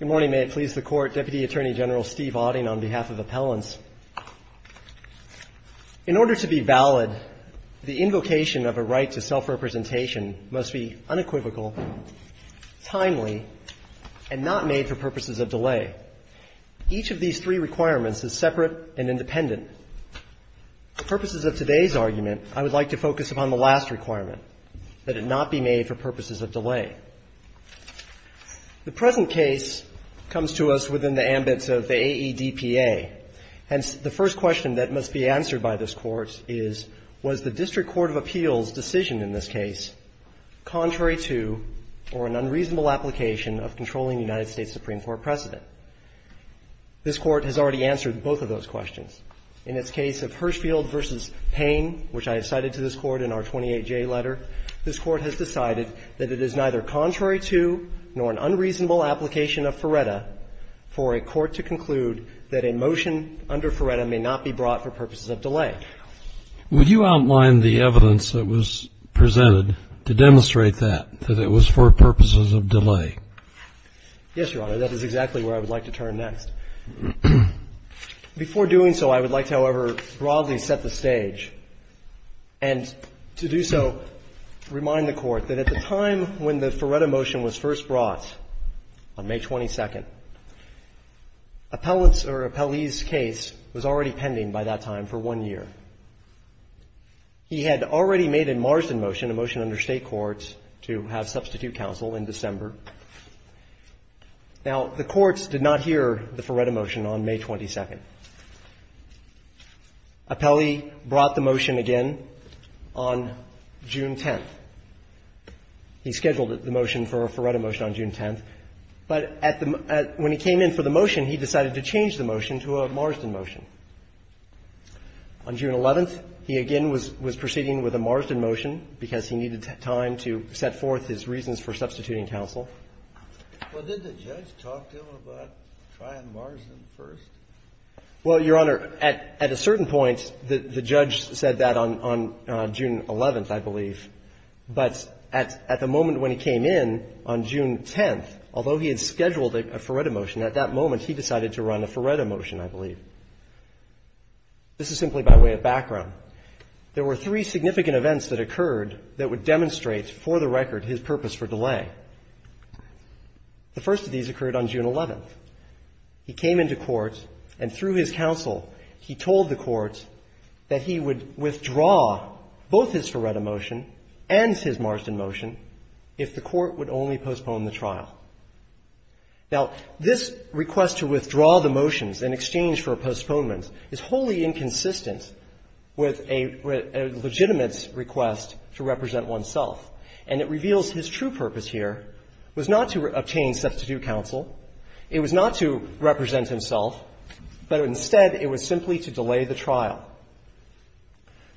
Good morning. May it please the Court. Deputy Attorney General Steve Auding on behalf of Appellants. In order to be valid, the invocation of a right to self-representation must be unequivocal, timely, and not made for purposes of delay. Each of these three requirements is separate and independent. For purposes of today's argument, I would like to focus upon the last requirement, that it not be made for purposes of delay. The present case comes to us within the ambit of the AEDPA. Hence, the first question that must be answered by this Court is, was the District Court of Appeals' decision in this case contrary to or an unreasonable application of controlling the United States Supreme Court precedent? This Court has already answered both of those questions. In its case of Hirshfield v. Payne, which I have cited to this point, the District Court of Appeals' decision was neither contrary to nor an unreasonable application of FRERETA for a court to conclude that a motion under FRERETA may not be brought for purposes of delay. Would you outline the evidence that was presented to demonstrate that, that it was for purposes of delay? Yes, Your Honor. That is exactly where I would like to turn next. Before doing so, I would like to, however, broadly set the stage. And to do so, remind the Court that at the time when the FRERETA motion was first brought on May 22nd, Appellate's or Appellee's case was already pending by that time for one year. He had already made a Marsden motion, a motion under State courts, to have substitute counsel in December. Now, the courts did not hear the FRERETA motion on May 22nd. Appellee brought the motion again on June 10th. He scheduled the motion for a FRERETA motion on June 10th, but when he came in for the motion, he decided to change the motion to a Marsden motion. On June 11th, he again was proceeding with a Marsden motion because he needed time to set forth his reasons for substituting counsel. Well, did the judge talk to him about trying Marsden first? Well, Your Honor, at a certain point, the judge said that on June 11th, I believe. But at the moment when he came in, on June 10th, although he had scheduled a FRERETA motion, at that moment he decided to run a FRERETA motion, I believe. This is simply by way of background. There were three significant events that occurred that would demonstrate for the record his purpose for delay. The first of these occurred on June 11th. He came into court, and through his counsel, he told the court that he would withdraw both his FRERETA motion and his Marsden motion if the court would only postpone the trial. Now, this request to withdraw the motions in exchange for a postponement is wholly inconsistent with a legitimate request to represent oneself. And it reveals his true purpose here was not to obtain substitute counsel. It was not to represent himself, but instead it was simply to delay the trial.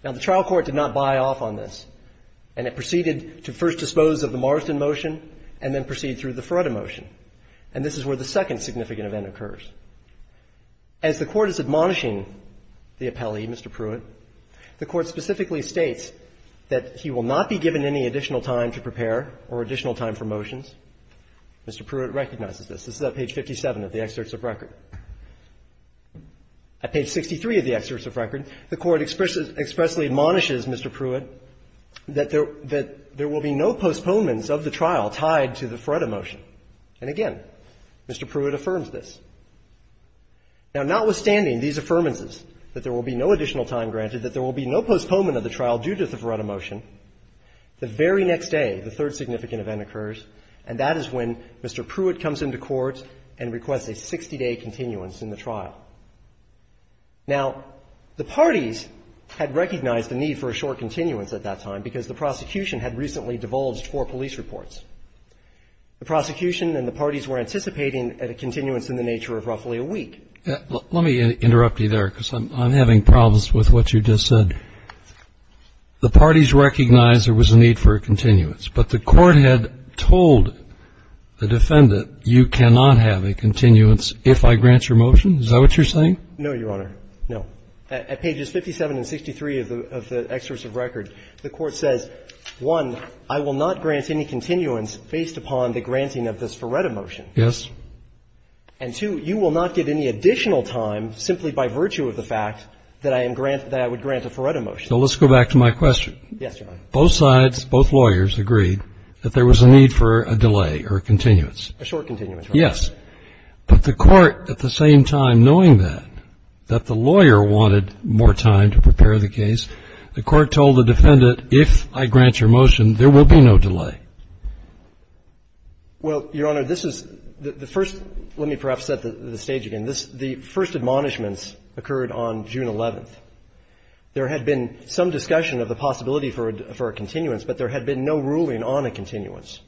Now, the trial court did not buy off on this, and it proceeded to first dispose of the Marsden motion and then proceed through the FRERETA motion. And this is where the second significant event occurs. As the court is admonishing the appellee, Mr. Pruitt, the court specifically states that he will not be given any additional time to prepare or additional time for motions. Mr. Pruitt recognizes this. This is at page 57 of the excerpts of record. At page 63 of the excerpts of record, the court expressly admonishes Mr. Pruitt that there will be no postponements of the trial tied to the FRERETA motion. And again, Mr. Pruitt affirms this. Now, notwithstanding these affirmances, that there will be no additional time granted, that there will be no postponement of the trial due to the FRERETA motion, the very next day, the third significant event occurs, and that is when Mr. Pruitt comes into court and requests a 60-day continuance in the trial. Now, the parties had recognized the need for a short continuance at that time because the prosecution had recently divulged four police reports. The prosecution and the parties were anticipating a continuance in the nature of roughly a week. Let me interrupt you there because I'm having problems with what you just said. The parties recognized there was a need for a continuance, but the court had told the defendant, you cannot have a continuance if I grant your motion. Is that what you're saying? No, Your Honor. No. At pages 57 and 63 of the excerpts of record, the court says, one, I will not grant any continuance based upon the granting of the FRERETA motion. Yes. And, two, you will not get any additional time simply by virtue of the fact that I would grant a FRERETA motion. So let's go back to my question. Yes, Your Honor. Both sides, both lawyers agreed that there was a need for a delay or a continuance. A short continuance, right? Yes. But the court, at the same time knowing that, that the lawyer wanted more time to prepare the case, the court told the defendant, if I grant your motion, there will be no delay. Well, Your Honor, this is the first, let me perhaps set the stage again. The first admonishments occurred on June 11th. There had been some discussion of the possibility for a continuance, but there had been no ruling on a continuance.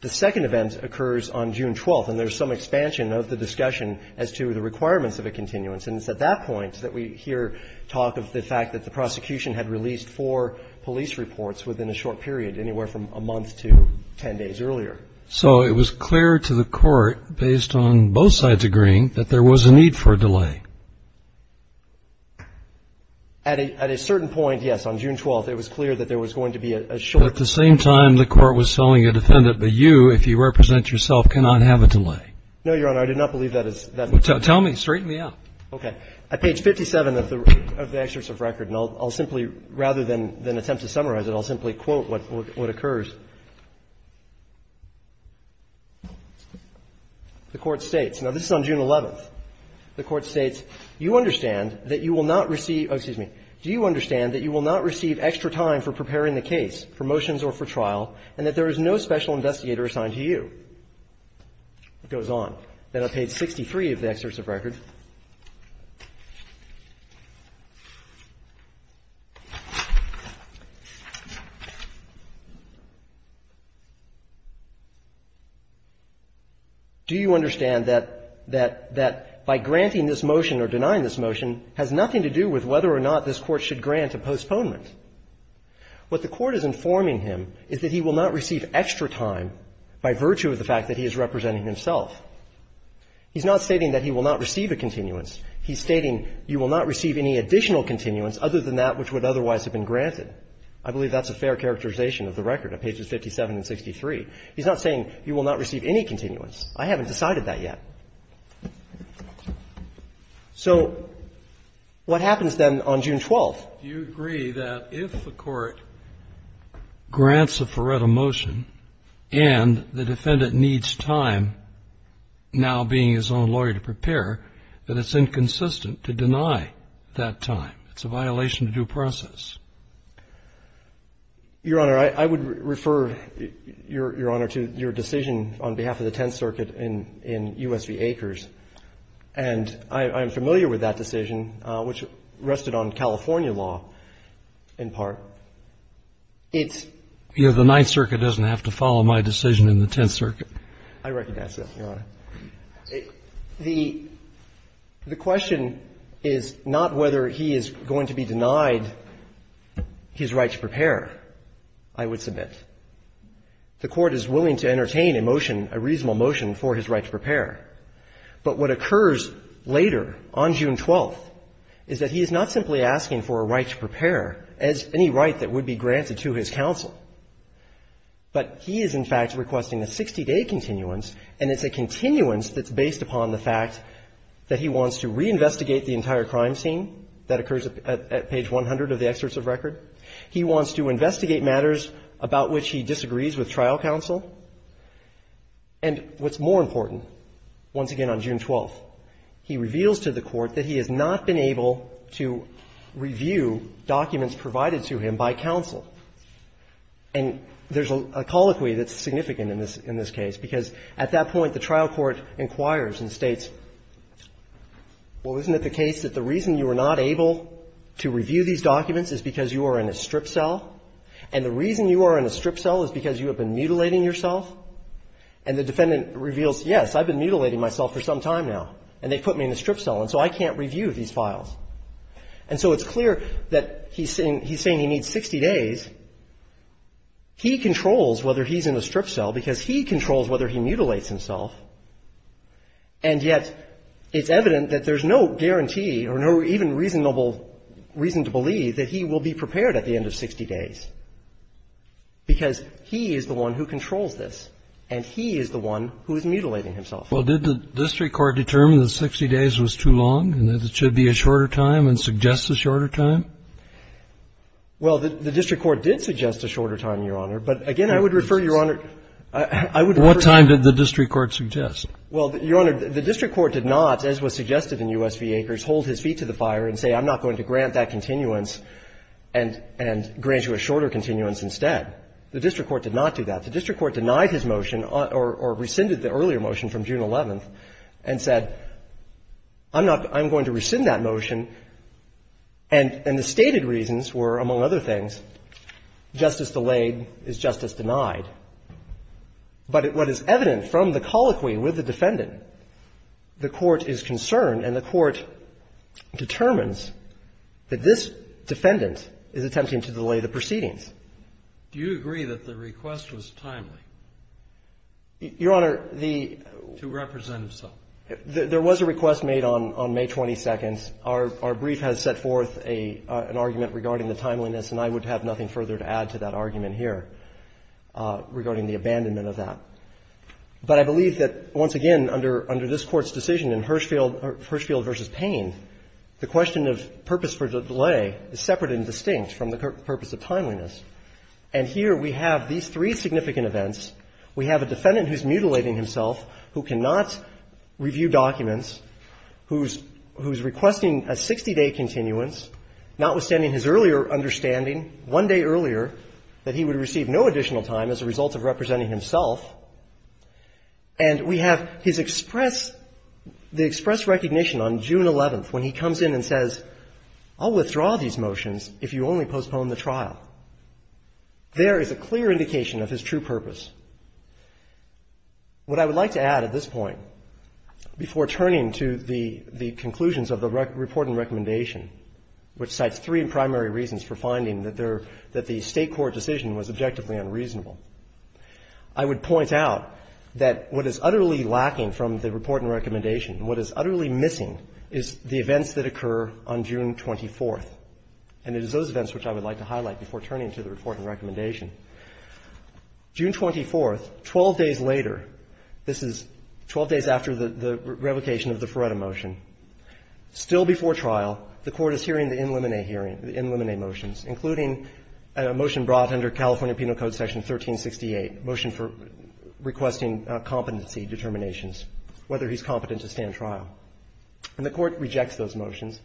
The second event occurs on June 12th, and there's some expansion of the discussion as to the requirements of a continuance, and it's at that point that we hear talk of the fact that the prosecution had released four police reports within a short period, anywhere from a month to 10 days earlier. So it was clear to the court, based on both sides agreeing, that there was a need for a delay. At a certain point, yes, on June 12th, it was clear that there was going to be a short continuance. But at the same time, the court was telling the defendant that you, if you represent yourself, cannot have a delay. No, Your Honor. I did not believe that is the case. Tell me. Straighten me out. Okay. At page 57 of the excerpt of record, and I'll simply, rather than attempt to summarize it, I'll simply quote what occurs. The court states. Now, this is on June 11th. The court states, you understand that you will not receive excuse me. Do you understand that you will not receive extra time for preparing the case for motions or for trial, and that there is no special investigator assigned to you? It goes on. Then on page 63 of the excerpt of record. Do you understand that by granting this motion or denying this motion has nothing to do with whether or not this Court should grant a postponement? What the Court is informing him is that he will not receive extra time by virtue of the fact that he is representing himself. He's not stating that he will not receive a continuance. He's stating you will not receive any additional continuance other than that which would otherwise have been granted. I believe that's a fair characterization of the record at pages 57 and 63. He's not saying you will not receive any continuance. I haven't decided that yet. So what happens then on June 12th? Do you agree that if the Court grants a Feretta motion and the defendant needs time, now being his own lawyer to prepare, that it's inconsistent to deny that time? It's a violation of due process. Your Honor, I would refer, Your Honor, to your decision on behalf of the Tenth Circuit in U.S. v. Akers. And I'm familiar with that decision, which rested on California law in part. It's the Ninth Circuit doesn't have to follow my decision in the Tenth Circuit. I recognize that, Your Honor. The question is not whether he is going to be denied his right to prepare, I would submit. The Court is willing to entertain a motion, a reasonable motion, for his right to prepare. But what occurs later on June 12th is that he is not simply asking for a right to prepare as any right that would be granted to his counsel. But he is, in fact, requesting a 60-day continuance, and it's a continuance that's based upon the fact that he wants to reinvestigate the entire crime scene that occurs at page 100 of the excerpts of record. He wants to investigate matters about which he disagrees with trial counsel. And what's more important, once again on June 12th, he reveals to the Court that he has not been able to review documents provided to him by counsel. And there's a colloquy that's significant in this case, because at that point the trial court inquires and states, well, isn't it the case that the reason you were not able to review these documents is because you are in a strip cell, and the reason you are in a strip cell is because you have been mutilating yourself? And the defendant reveals, yes, I've been mutilating myself for some time now, and they put me in a strip cell, and so I can't review these files. And so it's clear that he's saying he needs 60 days. He controls whether he's in a strip cell because he controls whether he mutilates himself, and yet it's evident that there's no guarantee or no even reasonable reason to believe that he will be prepared at the end of 60 days. Because he is the one who controls this, and he is the one who is mutilating himself. Kennedy. Well, did the district court determine that 60 days was too long and that it should be a shorter time and suggest a shorter time? Well, the district court did suggest a shorter time, Your Honor. But, again, I would refer, Your Honor, I would refer to the district court. What time did the district court suggest? Well, Your Honor, the district court did not, as was suggested in U.S. v. Acres, hold his feet to the fire and say, I'm not going to grant that continuance and grant you a shorter continuance instead. The district court did not do that. The district court denied his motion or rescinded the earlier motion from June 11th and said, I'm not going to rescind that motion, and the stated reasons were, among other things, justice delayed is justice denied. But what is evident from the colloquy with the defendant, the court is concerned and the court determines that this defendant is attempting to delay the proceedings. Do you agree that the request was timely? Your Honor, the ---- To represent himself. There was a request made on May 22nd. Our brief has set forth an argument regarding the timeliness, and I would have nothing further to add to that argument here regarding the abandonment of that. But I believe that, once again, under this Court's decision in Hirshfield v. Payne, the question of purpose for the delay is separate and distinct from the purpose of timeliness. And here we have these three significant events. We have a defendant who is mutilating himself, who cannot review documents, who is requesting a 60-day continuance, notwithstanding his earlier understanding one day earlier that he would receive no additional time as a result of representing himself. And we have his express ---- the expressed recognition on June 11th when he comes in and says, I'll withdraw these motions if you only postpone the trial. There is a clear indication of his true purpose. What I would like to add at this point, before turning to the ---- the conclusions of the report and recommendation, which cites three primary reasons for finding that there ---- that the State court decision was objectively unreasonable. I would point out that what is utterly lacking from the report and recommendation and what is utterly missing is the events that occur on June 24th. And it is those events which I would like to highlight before turning to the report and recommendation. June 24th, 12 days later, this is 12 days after the revocation of the Ferretta motion, still before trial, the Court is hearing the in limine hearing, the in limine motions, including a motion brought under California Penal Code Section 1368, a motion for requesting competency determinations, whether he is competent to stand trial. And the Court rejects those motions.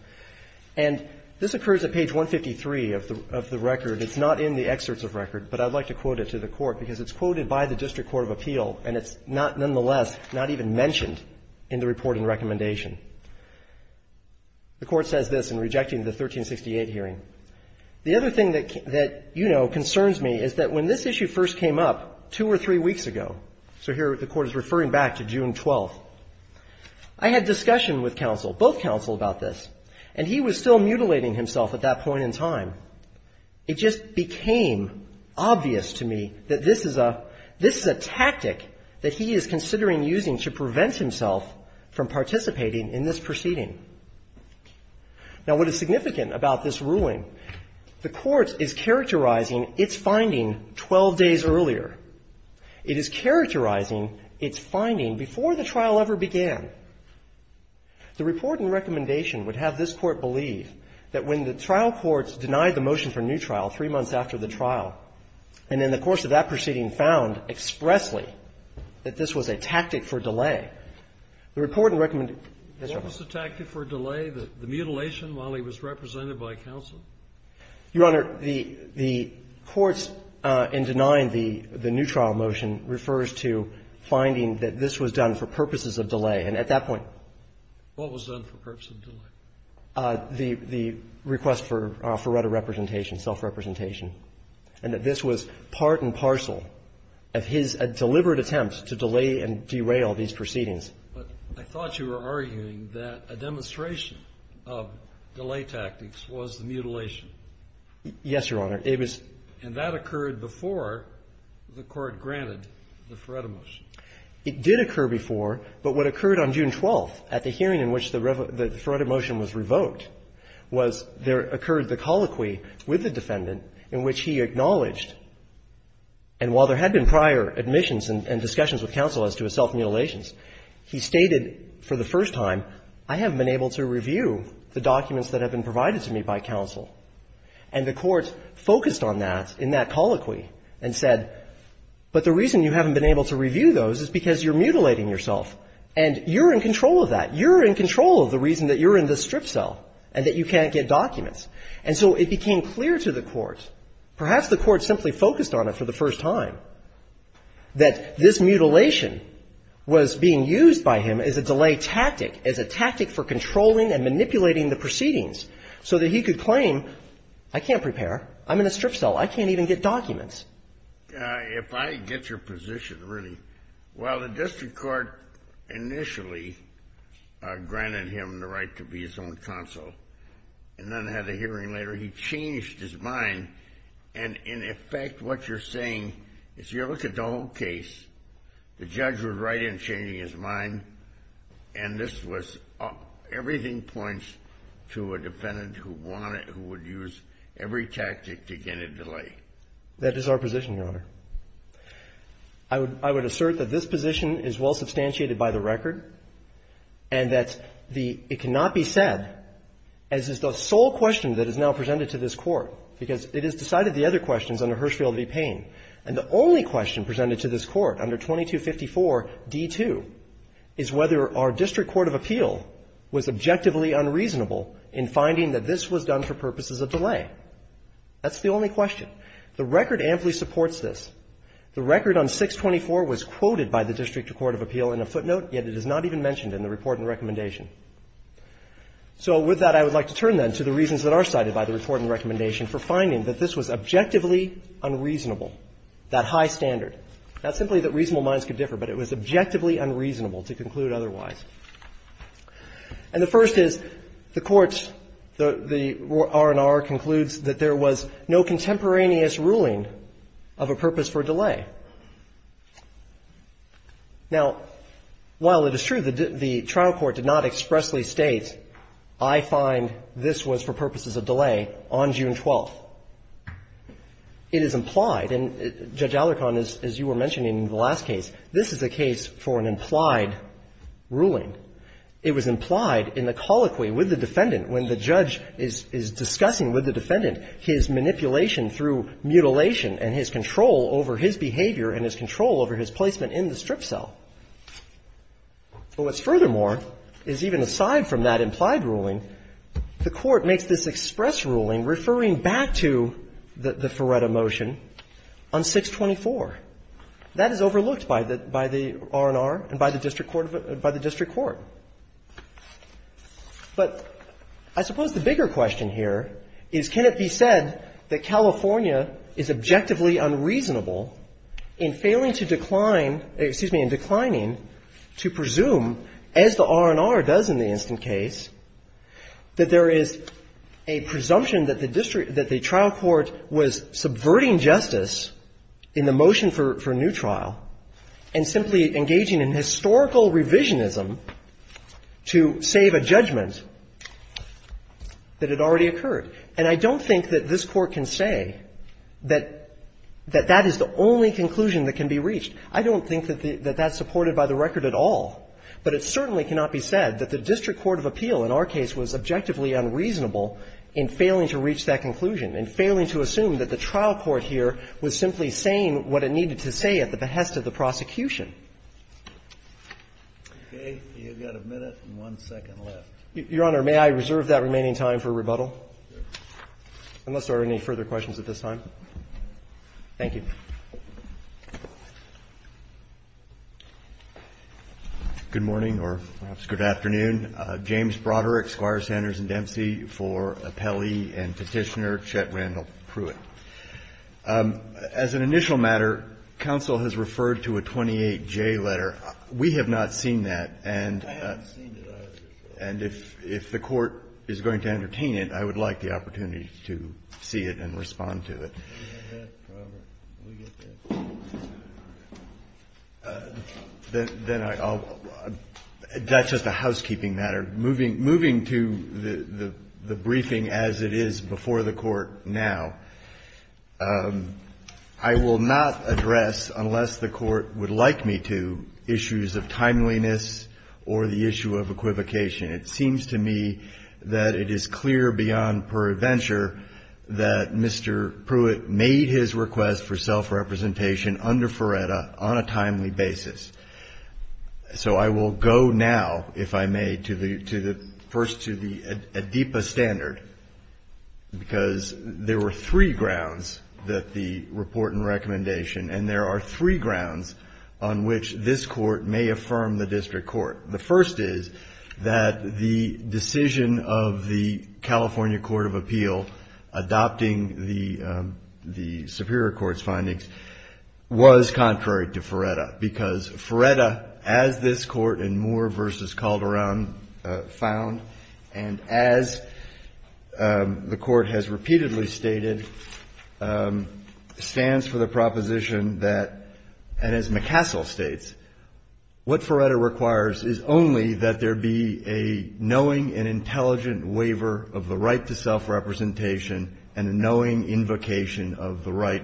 And this occurs at page 153 of the record. It's not in the excerpts of record, but I would like to quote it to the Court, because it's quoted by the District Court of Appeal, and it's not nonetheless not even mentioned in the report and recommendation. The Court says this in rejecting the 1368 hearing, the other thing that, you know, concerns me is that when this issue first came up two or three weeks ago, so here the Court is referring back to June 12th, I had discussion with counsel, both counsel, about this. And he was still mutilating himself at that point in time. It just became obvious to me that this is a tactic that he is considering using to prevent himself from participating in this proceeding. Now, what is significant about this ruling, the Court is characterizing its finding 12 days earlier. It is characterizing its finding before the trial ever began. The report and recommendation would have this Court believe that when the trial courts denied the motion for new trial three months after the trial, and in the course of that proceeding found expressly that this was a tactic for delay, the report and recommendation What was the tactic for delay? The mutilation while he was represented by counsel? Your Honor, the Court's in denying the new trial motion refers to finding that this was done for purposes of delay, and at that point What was done for purposes of delay? The request for reta representation, self-representation, and that this was part and parcel of his deliberate attempt to delay and derail these proceedings. But I thought you were arguing that a demonstration of delay tactics was the mutilation. Yes, Your Honor. It was And that occurred before the Court granted the Feretta motion. It did occur before, but what occurred on June 12th at the hearing in which the Feretta motion was revoked was there occurred the colloquy with the defendant in which he acknowledged, and while there had been prior admissions and discussions with counsel as to his self-mutilation, he stated for the first time, I haven't been able to review the documents that have been provided to me by counsel. And the Court focused on that in that colloquy and said, but the reason you haven't been able to review those is because you're mutilating yourself, and you're in control of that. You're in control of the reason that you're in this strip cell and that you can't get documents. And so it became clear to the Court, perhaps the Court simply focused on it for the first time, that this mutilation was being used by him as a delay tactic, as a tactic for controlling and manipulating the proceedings so that he could claim, I can't prepare, I'm in a strip cell, I can't even get documents. If I get your position, really, while the District Court initially granted him the right to be his own counsel, and then had a hearing later, he changed his mind. And in effect, what you're saying is you look at the whole case, the judge was right in changing his mind, and this was, everything points to a defendant who would use every tactic to get a delay. That is our position, Your Honor. I would assert that this position is well substantiated by the record, and that it cannot be said, as is the sole question that is now presented to this Court, because it has decided the other questions under Hirschfield v. Payne. And the only question presented to this Court under 2254d2 is whether our District Court of Appeal was objectively unreasonable in finding that this was done for purposes of delay. That's the only question. The record amply supports this. The record on 624 was quoted by the District Court of Appeal in a footnote, yet it is not even mentioned in the report and recommendation. So with that, I would like to turn, then, to the reasons that are cited by the report and recommendation for finding that this was objectively unreasonable, that high standard. Not simply that reasonable minds could differ, but it was objectively unreasonable to conclude otherwise. And the first is, the Court's, the R&R concludes that there was no contemporaneous ruling of a purpose for delay. Now, while it is true that the trial court did not expressly state, I find this was for purposes of delay on June 12th, it is implied, and Judge Alarcon, as you were mentioning in the last case, this is a case for an implied ruling. It was implied in the colloquy with the defendant when the judge is discussing with the defendant his manipulation through mutilation and his control over his behavior and his control over his placement in the strip cell. But what's furthermore is, even aside from that implied ruling, the Court makes this express ruling referring back to the Feretta motion on 624. That is overlooked by the R&R and by the District Court, by the District Court. But I suppose the bigger question here is, can it be said that California is objectively unreasonable in failing to decline, excuse me, in declining to presume, as the R&R does in the instant case, that there is a presumption that the district, that the trial court was subverting justice in the motion for a new trial, that there is a reasonable revisionism to save a judgment that had already occurred? And I don't think that this Court can say that that is the only conclusion that can be reached. I don't think that that's supported by the record at all. But it certainly cannot be said that the District Court of Appeal, in our case, was objectively unreasonable in failing to reach that conclusion, in failing to assume that the trial court here was simply saying what it needed to say at the behest of the prosecution. Breyer, you've got a minute and one second left. Your Honor, may I reserve that remaining time for rebuttal? Unless there are any further questions at this time. Thank you. Good morning, or perhaps good afternoon. James Broderick, Squire, Sanders & Dempsey for Appellee and Petitioner. I'm here to speak today on the case of Chet Randall Pruitt. As an initial matter, counsel has referred to a 28J letter. We have not seen that, and if the Court is going to entertain it, I would like the opportunity to see it and respond to it. That's just a housekeeping matter. Moving to the briefing as it is before the Court now, I will not address, unless the Court would like me to, issues of timeliness or the issue of equivocation. It seems to me that it is clear beyond perventure that Mr. Pruitt made his request for self-representation under Feretta on a timely basis. So I will go now, if I may, first to the ADEPA standard, because there were three grounds that the report and recommendation, and there are three grounds on which this Court may affirm the district court. The first is that the decision of the California Court of Appeal adopting the Superior Court's findings was contrary to Feretta, because Feretta, as this Court in Moore v. Calderon found, and as the Court has repeatedly stated, stands for the proposition that, and as McCassell states, what Feretta requires is only that there be a knowing and intelligent waiver of the right to self-representation and a knowing invocation of the right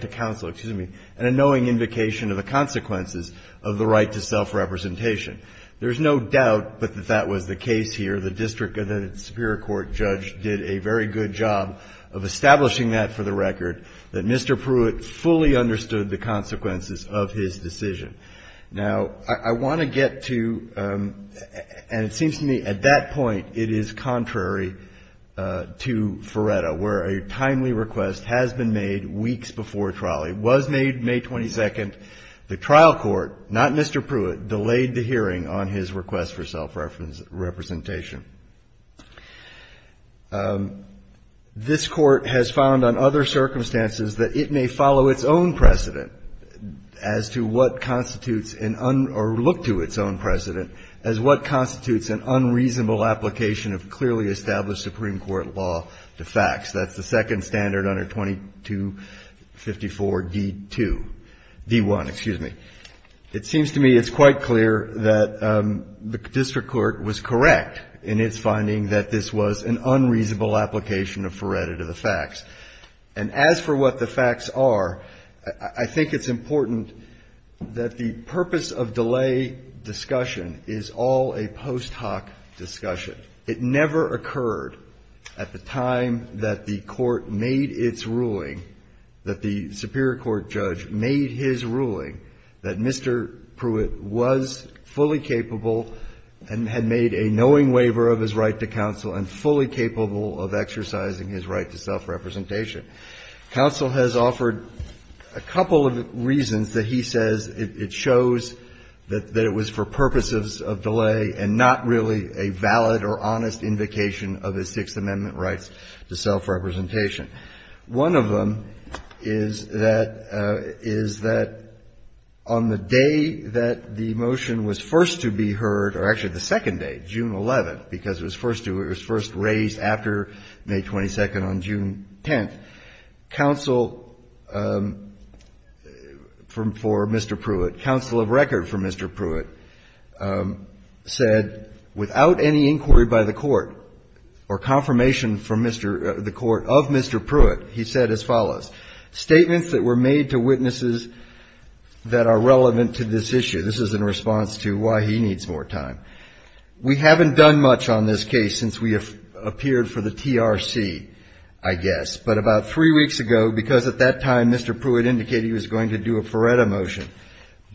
to counsel, excuse me, and a knowing invocation of the consequences of the right to self-representation. There is no doubt that that was the case here. The district Superior Court judge did a very good job of establishing that for the record, that Mr. Pruitt fully understood the consequences of his decision. Now, I want to get to, and it seems to me at that point it is contrary to Feretta, where a timely request has been made weeks before trial. It was made May 22nd. The trial court, not Mr. Pruitt, delayed the hearing on his request for self-representation. This Court has found on other circumstances that it may follow its own precedent as to what constitutes an un or look to its own precedent as what constitutes an unreasonable application of clearly established Supreme Court law to fax. That's the second standard under 2254d2, d1, excuse me. It seems to me it's quite clear that the district court was correct in its finding that this was an unreasonable application of Feretta to the fax. And as for what the fax are, I think it's important that the purpose of delay discussion is all a post hoc discussion. It never occurred at the time that the court made its ruling, that the Superior Court judge made his ruling, that Mr. Pruitt was fully capable and had made a knowing waiver of his right to counsel and fully capable of exercising his right to self-representation. Counsel has offered a couple of reasons that he says it shows that it was for purposes of delay and not really a valid or honest invocation of his Sixth Amendment rights to self-representation. One of them is that on the day that the motion was first to be heard, or actually the second day, June 11th, because it was first raised after May 22nd on June 10th, counsel for Mr. Pruitt, counsel of record for Mr. Pruitt, said without any inquiry by the court or confirmation from the court of Mr. Pruitt, he said as follows. Statements that were made to witnesses that are relevant to this issue. This is in response to why he needs more time. We haven't done much on this case since we appeared for the TRC, I guess, but about three weeks ago, because at that time Mr. Pruitt indicated he was going to do a Feretta motion,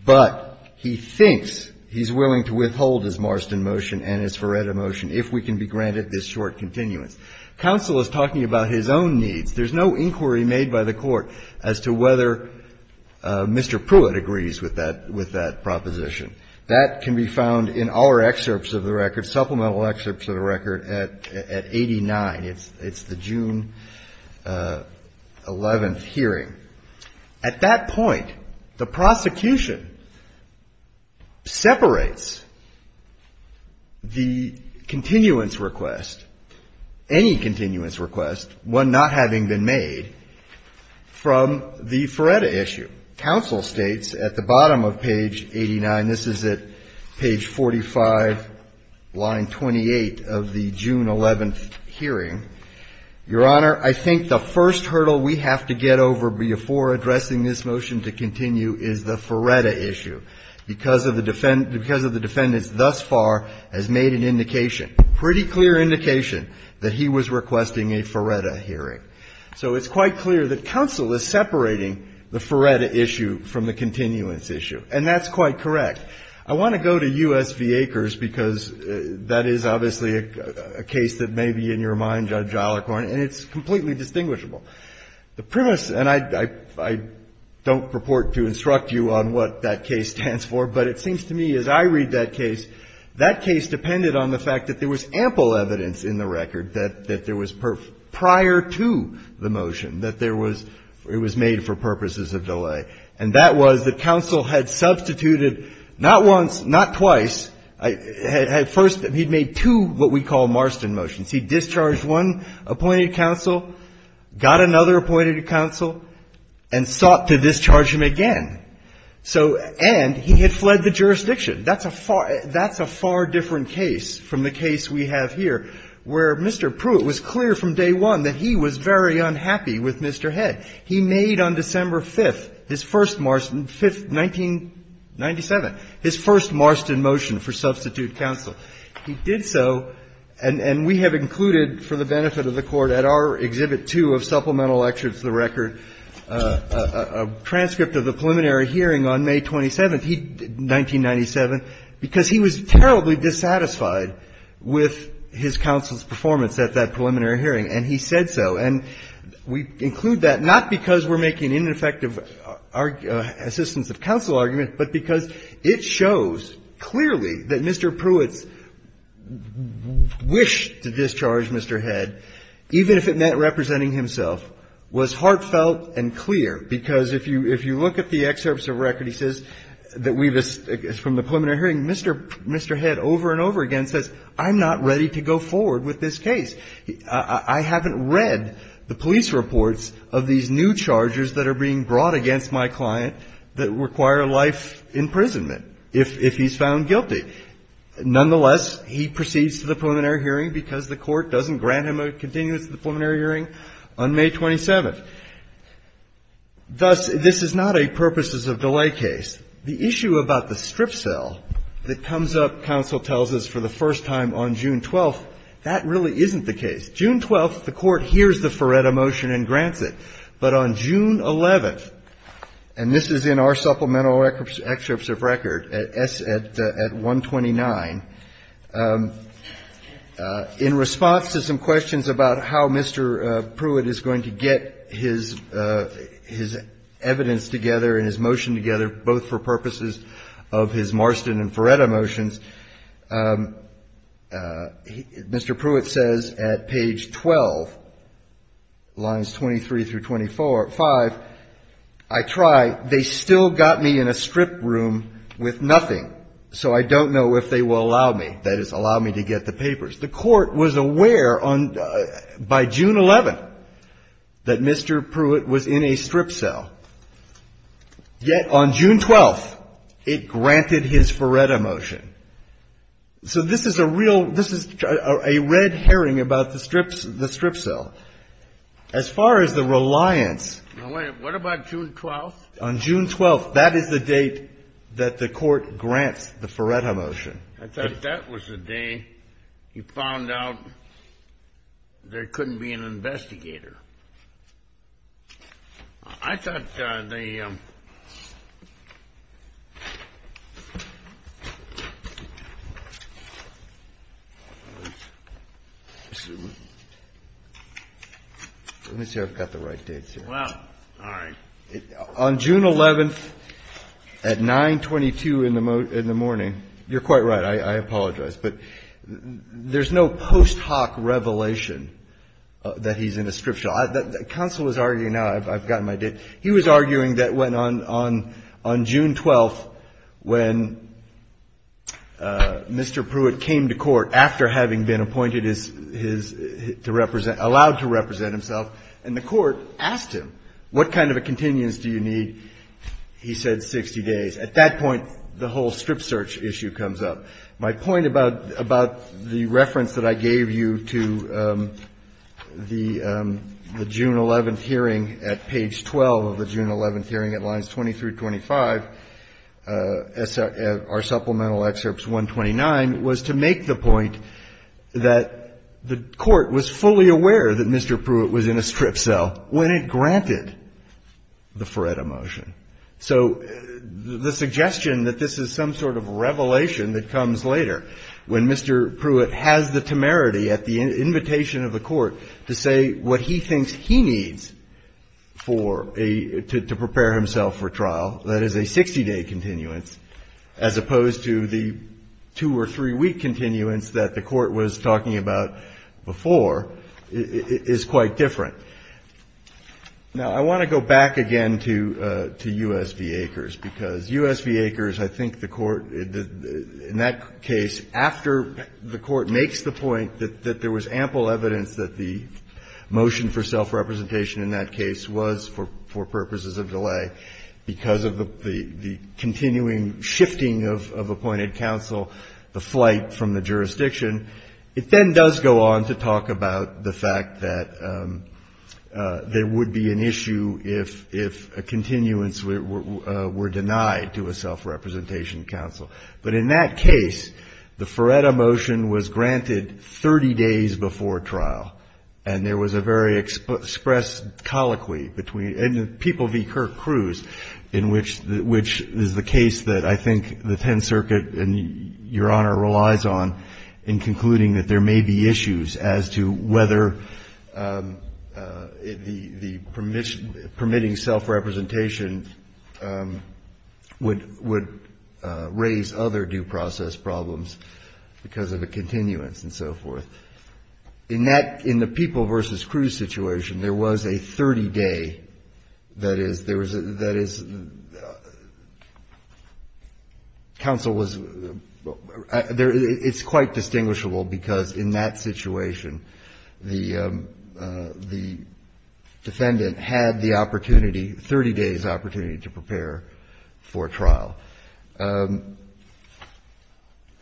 but he thinks he's willing to withhold his Marston motion and his Feretta motion if we can be granted this short continuance. Counsel is talking about his own needs. There's no inquiry made by the court as to whether Mr. Pruitt agrees with that proposition. That can be found in our excerpts of the record, supplemental excerpts of the record at 89. It's the June 11th hearing. At that point, the prosecution separates the continuance request, any continuance request, one not having been made, from the Feretta issue. Counsel states at the bottom of page 89, this is at page 45, line 28 of the June 11th motion to continue, is the Feretta issue, because of the defendant's thus far has made an indication, pretty clear indication, that he was requesting a Feretta hearing. So it's quite clear that counsel is separating the Feretta issue from the continuance issue, and that's quite correct. I want to go to U.S. v. Acres, because that is obviously a case that may be in your mind, Judge Ollercorn, and it's completely distinguishable. The premise, and I don't purport to instruct you on what that case stands for, but it seems to me as I read that case, that case depended on the fact that there was ample evidence in the record that there was prior to the motion, that there was, it was made for purposes of delay, and that was that counsel had substituted not once, not twice. First, he made two what we call Marston motions. He discharged one appointed counsel, got another appointed counsel, and sought to discharge him again. So, and he had fled the jurisdiction. That's a far, that's a far different case from the case we have here, where Mr. Pruitt was clear from day one that he was very unhappy with Mr. Head. He made on December 5th, his first Marston, 5th, 1997, his first Marston motion for substitute counsel. He did so, and we have included, for the benefit of the Court, at our Exhibit 2 of Supplemental Lecture to the Record, a transcript of the preliminary hearing on May 27th, he, 1997, because he was terribly dissatisfied with his counsel's performance at that preliminary hearing, and he said so. And we include that not because we're making ineffective assistance of counsel argument, but because it shows clearly that Mr. Pruitt's wish to discharge Mr. Head, even if it meant representing himself, was heartfelt and clear, because if you, if you look at the excerpts of record, he says that we've, from the preliminary hearing, Mr. Head over and over again says, I'm not ready to go forward with this case. I haven't read the police reports of these new chargers that are being brought against my client that require life imprisonment if, if he's found guilty. Nonetheless, he proceeds to the preliminary hearing because the Court doesn't grant him a continuance to the preliminary hearing on May 27th. Thus, this is not a purposes of delay case. The issue about the strip sale that comes up, counsel tells us, for the first time on June 12th, that really isn't the case. June 12th, the Court hears the Ferretta motion and grants it. But on June 11th, and this is in our supplemental excerpts of record, at S, at, at 129, in response to some questions about how Mr. Pruitt is going to get his, his evidence together and his motion together, both for purposes of his Marston and Ferretta motions, Mr. Pruitt says at page 12, lines 23 through 24, 5, I try. They still got me in a strip room with nothing. So I don't know if they will allow me, that is, allow me to get the papers. The Court was aware on, by June 11th, that Mr. Pruitt was in a strip sale. Yet on June 12th, it granted his Ferretta motion. So this is a real, this is a red herring about the strips, the strip sale. As far as the reliance. Now, wait. What about June 12th? On June 12th, that is the date that the Court grants the Ferretta motion. I thought that was the day he found out there couldn't be an investigator. I thought the. Let me see if I've got the right dates here. Well, all right. On June 11th, at 9.22 in the morning. You're quite right. I apologize. But there's no post hoc revelation that he's in a strip shop. Counsel was arguing, now I've gotten my date. He was arguing that when on June 12th, when Mr. Pruitt came to court, after having been appointed as his, to represent, allowed to represent himself, and the Court asked him, what kind of a continuance do you need? He said 60 days. At that point, the whole strip search issue comes up. My point about the reference that I gave you to the June 11th hearing at page 12 of the June 11th hearing at lines 20 through 25, our supplemental excerpts 129, was to make the point that the Court was fully aware that Mr. Pruitt was in a strip cell when it granted the Ferretta motion. So the suggestion that this is some sort of revelation that comes later, when Mr. Pruitt has the temerity at the invitation of the Court to say what he thinks he needs to prepare himself for trial, that is a 60-day continuance, as opposed to the two- or three-week continuance that the Court was talking about before, is quite different. Now, I want to go back again to U.S. v. Akers, because U.S. v. Akers, I think the Court, in that case, after the Court makes the point that there was ample evidence that the motion for self-representation in that case was, for purposes of delay, because of the continuing shifting of appointed counsel, the flight from the jurisdiction, it then does go on to talk about the fact that there would be an issue if a continuance were denied to a self-representation counsel. But in that case, the Ferretta motion was granted 30 days before trial, and there was a very expressed colloquy between the people v. Kirk Cruz, in which is the case that I think the Tenth Circuit and Your Honor relies on in concluding that there may be issues as to whether the permitting self-representation would raise other due process problems because of a continuance and so forth. In that, in the people v. Cruz situation, there was a 30-day, that is, there was a, that is, counsel was, it's quite distinguishable because in that situation, the defendant had the opportunity, 30 days' opportunity to prepare for trial.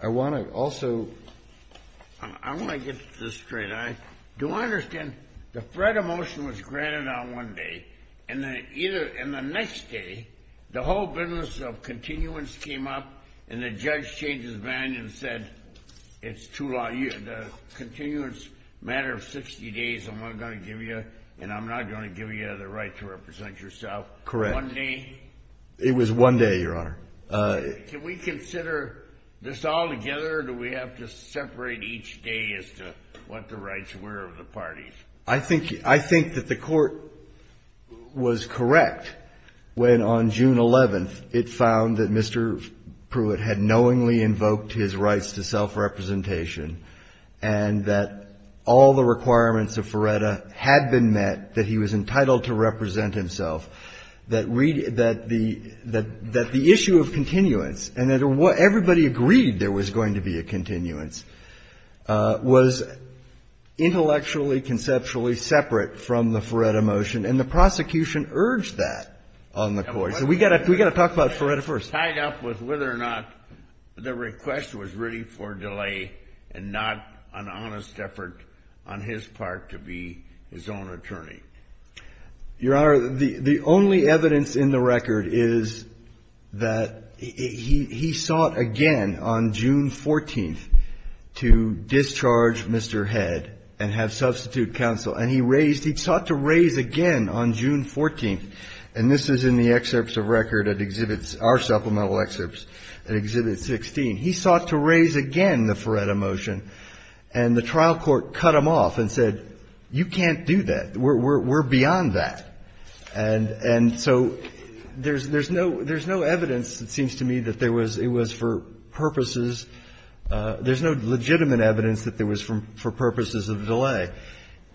I want to also, I want to get this straight. Do I understand, the Ferretta motion was granted on one day, and then either, and the next day, the whole business of continuance came up, and the judge changed his mind and said, it's too long, the continuance matter of 60 days, I'm not going to give you, and I'm not going to give you the right to represent yourself. Correct. One day? It was one day, Your Honor. Can we consider this all together, or do we have to separate each day as to what the rights were of the parties? I think, I think that the Court was correct when, on June 11th, it found that Mr. Pruitt had knowingly invoked his rights to self-representation, and that all the requirements of Ferretta had been met, that he was entitled to represent himself, that the issue of continuance, and that everybody agreed there was going to be a continuance, was intellectually, conceptually separate from the Ferretta motion, and the prosecution urged that on the Court. So we've got to talk about Ferretta first. Tied up with whether or not the request was really for delay, and not an honest effort on his part to be his own attorney. Your Honor, the only evidence in the record is that he sought again on June 14th, to discharge Mr. Head and have substitute counsel. And he raised, he sought to raise again on June 14th, and this is in the excerpts of record at Exhibit, our supplemental excerpts at Exhibit 16. He sought to raise again the Ferretta motion, and the trial court cut him off and said, you can't do that. We're beyond that. And so there's no evidence, it seems to me, that there was, it was for purposes, there's no legitimate evidence that there was for purposes of delay.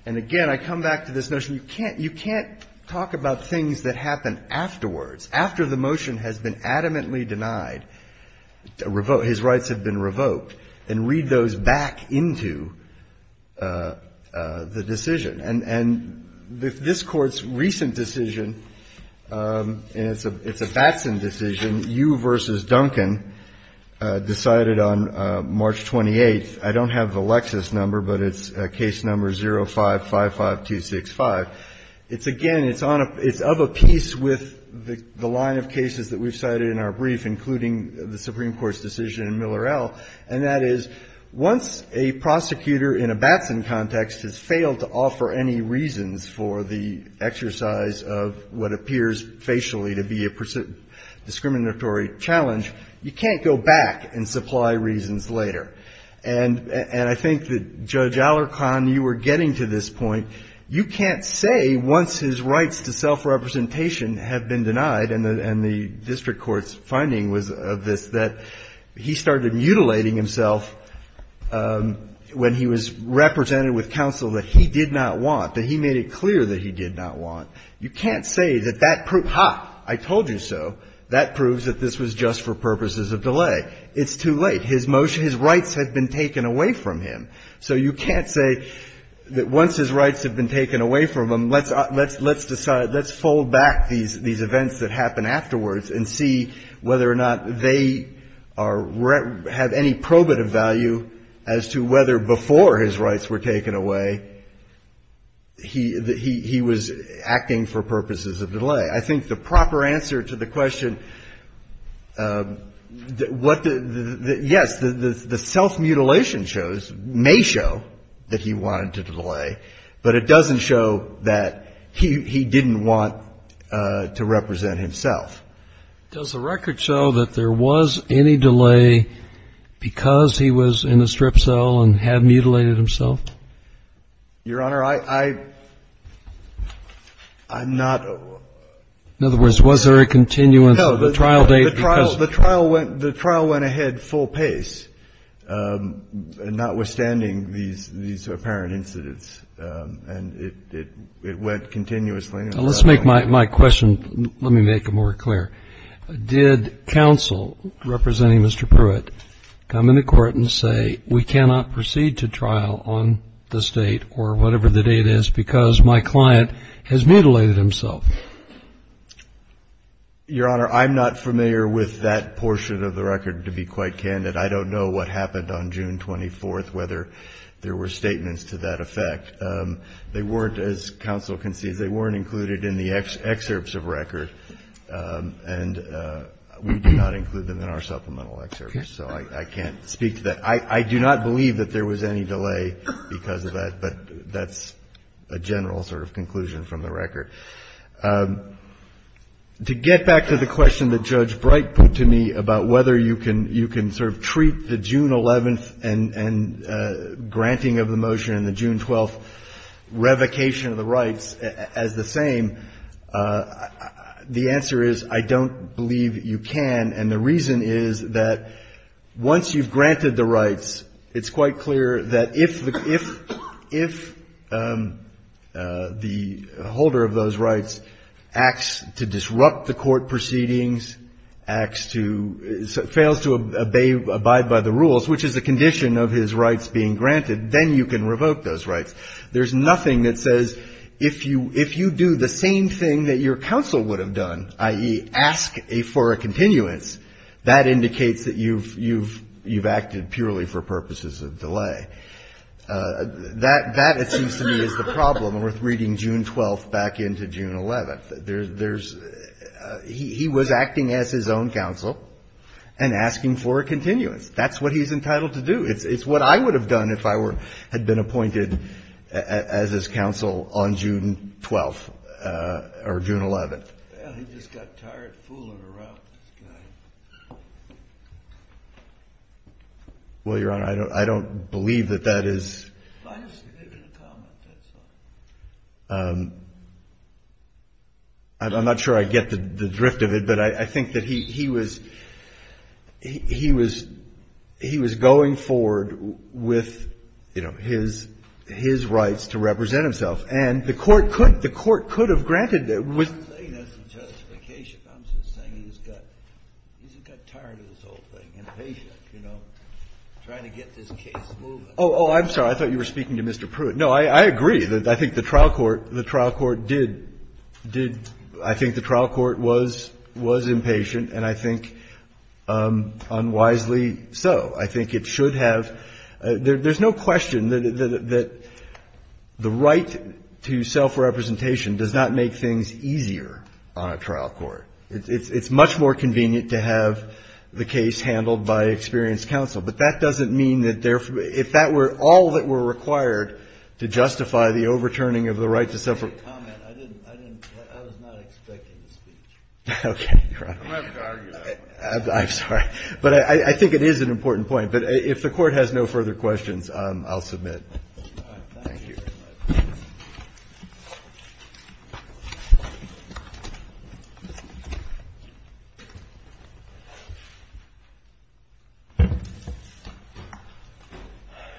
And again, I come back to this notion, you can't talk about things that happen afterwards. After the motion has been adamantly denied, his rights have been revoked, and read those back into the decision. And this Court's recent decision, and it's a Batson decision, you versus Duncan, decided on March 28th. I don't have the Lexis number, but it's case number 0555265. It's again, it's on a, it's of a piece with the line of cases that we've cited in our brief, including the Supreme Court's decision in Miller-El, and that is, once a prosecutor in a Batson context has failed to offer any reasons for the exercise of what appears facially to be a discriminatory challenge, you can't go back and supply reasons later. And I think that, Judge Alarcon, you were getting to this point. You can't say, once his rights to self-representation have been denied, and the district court's finding was of this, that he started mutilating himself when he was represented with counsel that he did not want, that he made it clear that he did not want. You can't say that that proved, ha, I told you so, that proves that this was just for purposes of delay. It's too late. His motion, his rights had been taken away from him. So you can't say that once his rights have been taken away from him, let's, let's, let's decide, let's fold back these, these events that happen afterwards and see whether or not they are, have any probative value as to whether before his rights were taken away, he, he was acting for purposes of delay. I think the proper answer to the question, what the, yes, the self-mutilation shows, may show that he wanted to delay, but it doesn't show that he, he didn't want to represent himself. Does the record show that there was any delay because he was in a strip cell and had mutilated himself? Your Honor, I, I, I'm not. In other words, was there a continuance of the trial date? No. The trial, the trial went, the trial went ahead full pace, notwithstanding these, these apparent incidents. And it, it, it went continuously. Now, let's make my, my question, let me make it more clear. Did counsel representing Mr. Pruitt come into court and say, we cannot proceed to trial on this date or whatever the date is because my client has mutilated himself? Your Honor, I'm not familiar with that portion of the record, to be quite candid. I don't know what happened on June 24th, whether there were statements to that effect. They weren't, as counsel concedes, they weren't included in the excerpts of record. And we do not include them in our supplemental excerpts. So I, I can't speak to that. I, I do not believe that there was any delay because of that, but that's a general sort of conclusion from the record. To get back to the question that Judge Bright put to me about whether you can, you can sort of treat the June 11th and, and granting of the motion and the June 12th revocation of the rights as the same, the answer is I don't believe you can. And the reason is that once you've granted the rights, it's quite clear that if, if, if the holder of those rights acts to disrupt the court proceedings, acts to, fails to obey, abide by the rules, which is a condition of his rights being granted, then you can revoke those rights. There's nothing that says if you, if you do the same thing that your counsel would have done, i.e. ask a, for a continuance, that indicates that you've, you've, you've acted purely for purposes of delay. That, that it seems to me is the problem with reading June 12th back into June 11th. There's, there's, he, he was acting as his own counsel and asking for a continuance. That's what he's entitled to do. It's, it's what I would have done if I were, had been appointed as his counsel on June 12th or June 11th. Well, he just got tired fooling around with this guy. Well, Your Honor, I don't, I don't believe that that is. Why don't you leave it a comment, that's all. I'm not sure I get the drift of it, but I think that he, he was, he, he was, he was going forward with, you know, his, his rights to represent himself. And the Court could, the Court could have granted that. I'm not saying that's the justification. I'm just saying he's got, he's got tired of this whole thing, impatient, you know, trying to get this case moving. Oh, oh, I'm sorry. I thought you were speaking to Mr. Pruitt. No, I, I agree. I think the trial court, the trial court did, did, I think the trial court was, was impatient, and I think unwisely so. I think it should have, there, there's no question that, that the right to self-representation does not make things easier on a trial court. It's, it's much more convenient to have the case handled by experienced counsel. But that doesn't mean that there, if that were all that were required to justify the overturning of the right to self-representation. I didn't, I didn't, I was not expecting the speech. Okay, Your Honor. I'm having to argue that. I'm sorry. But I, I think it is an important point. But if the Court has no further questions, I'll submit. Thank you.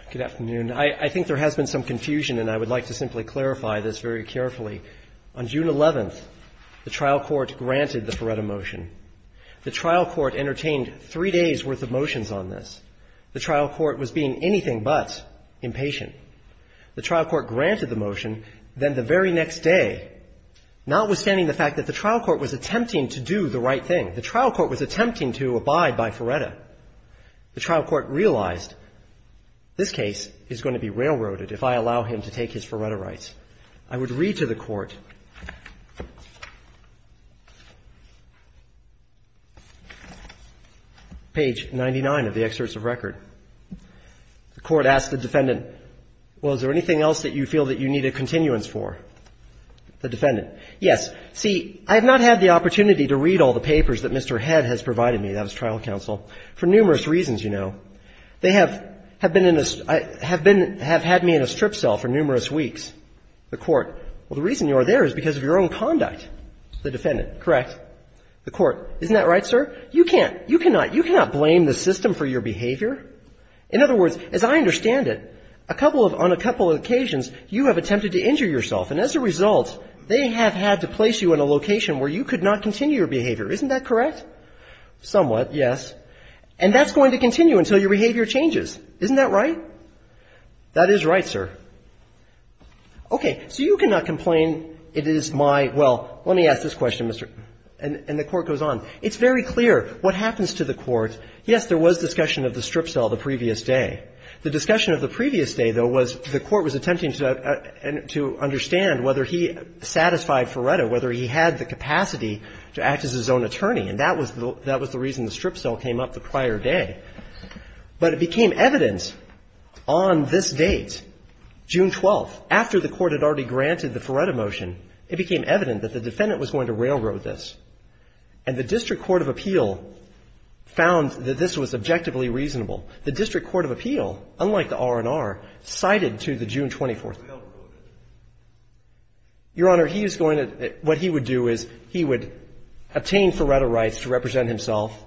Good afternoon. I, I think there has been some confusion, and I would like to simply clarify this very carefully. On June 11th, the trial court granted the Feretta motion. The trial court entertained three days' worth of motions on this. The trial court was being anything but impatient. The trial court granted the motion. Then the very next day, notwithstanding the fact that the trial court was attempting to do the right thing, the trial court was attempting to abide by Feretta. The trial court realized this case is going to be railroaded if I allow him to take his Feretta rights. I would read to the Court, page 99 of the excerpts of record. The Court asked the defendant, well, is there anything else that you feel that you need a continuance for? The defendant, yes. See, I have not had the opportunity to read all the papers that Mr. Head has provided me. That was trial counsel. For numerous reasons, you know. They have, have been in a, have been, have had me in a strip cell for numerous weeks. The Court, well, the reason you are there is because of your own conduct. The defendant, correct. The Court, isn't that right, sir? You can't, you cannot, you cannot blame the system for your behavior. In other words, as I understand it, a couple of, on a couple of occasions, you have attempted to injure yourself, and as a result, they have had to place you in a location where you could not continue your behavior. Isn't that correct? Somewhat, yes. And that's going to continue until your behavior changes. Isn't that right? That is right, sir. Okay. So you cannot complain, it is my, well, let me ask this question, Mr. And the Court goes on. It's very clear what happens to the Court. Yes, there was discussion of the strip cell the previous day. The discussion of the previous day, though, was the Court was attempting to understand whether he satisfied Ferretta, whether he had the capacity to act as his own attorney. And that was the, that was the reason the strip cell came up the prior day. But it became evident on this date, June 12th, after the Court had already granted the Ferretta motion, it became evident that the defendant was going to railroad this. And the District Court of Appeal found that this was objectively reasonable. The District Court of Appeal, unlike the R&R, cited to the June 24th. Your Honor, he is going to, what he would do is he would obtain Ferretta rights to represent himself,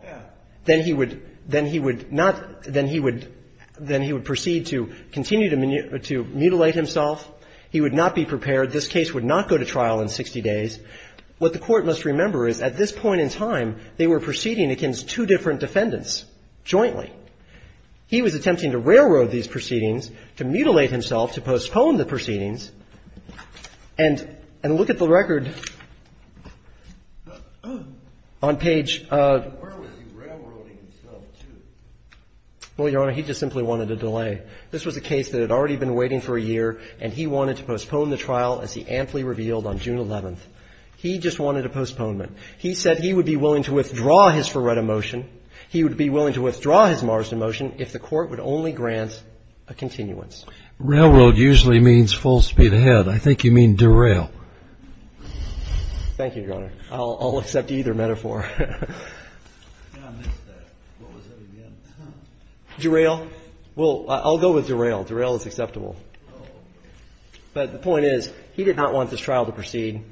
then he would, then he would not, then he would, then he would proceed to continue to mutilate himself. He would not be prepared. This case would not go to trial in 60 days. What the Court must remember is at this point in time, they were proceeding against two different defendants jointly. He was attempting to railroad these proceedings, to mutilate himself, to postpone the proceedings. And look at the record on page. Well, Your Honor, he just simply wanted a delay. This was a case that had already been waiting for a year, and he wanted to postpone the trial as he amply revealed on June 11th. He just wanted a postponement. He said he would be willing to withdraw his Ferretta motion. He would be willing to withdraw his Marsden motion if the Court would only grant a continuance. Railroad usually means full speed ahead. I think you mean derail. Thank you, Your Honor. I'll accept either metaphor. Derail? Well, I'll go with derail. Derail is acceptable. But the point is, he did not want this trial to proceed.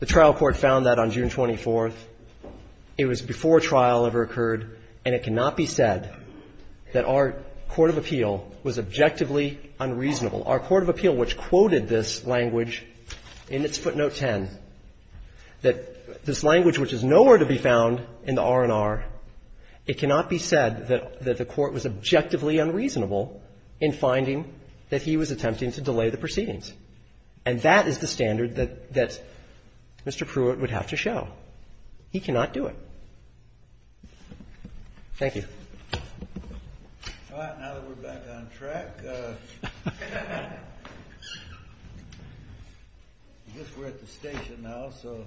The trial court found that on June 24th. It was before trial ever occurred, and it cannot be said that our court of appeal was objectively unreasonable. Our court of appeal, which quoted this language in its footnote 10, that this language which is nowhere to be found in the R&R, it cannot be said that the Court was objectively unreasonable in finding that he was attempting to delay the proceedings. And that is the standard that Mr. Pruitt would have to show. He cannot do it. Thank you. All right. Now that we're back on track, I guess we're at the station now. So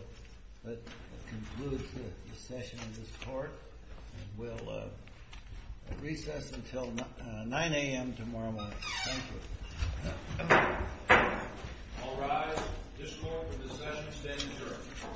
that concludes the session of this court. And we'll recess until 9 a.m. tomorrow morning. Thank you. All rise. This court for discussion is adjourned.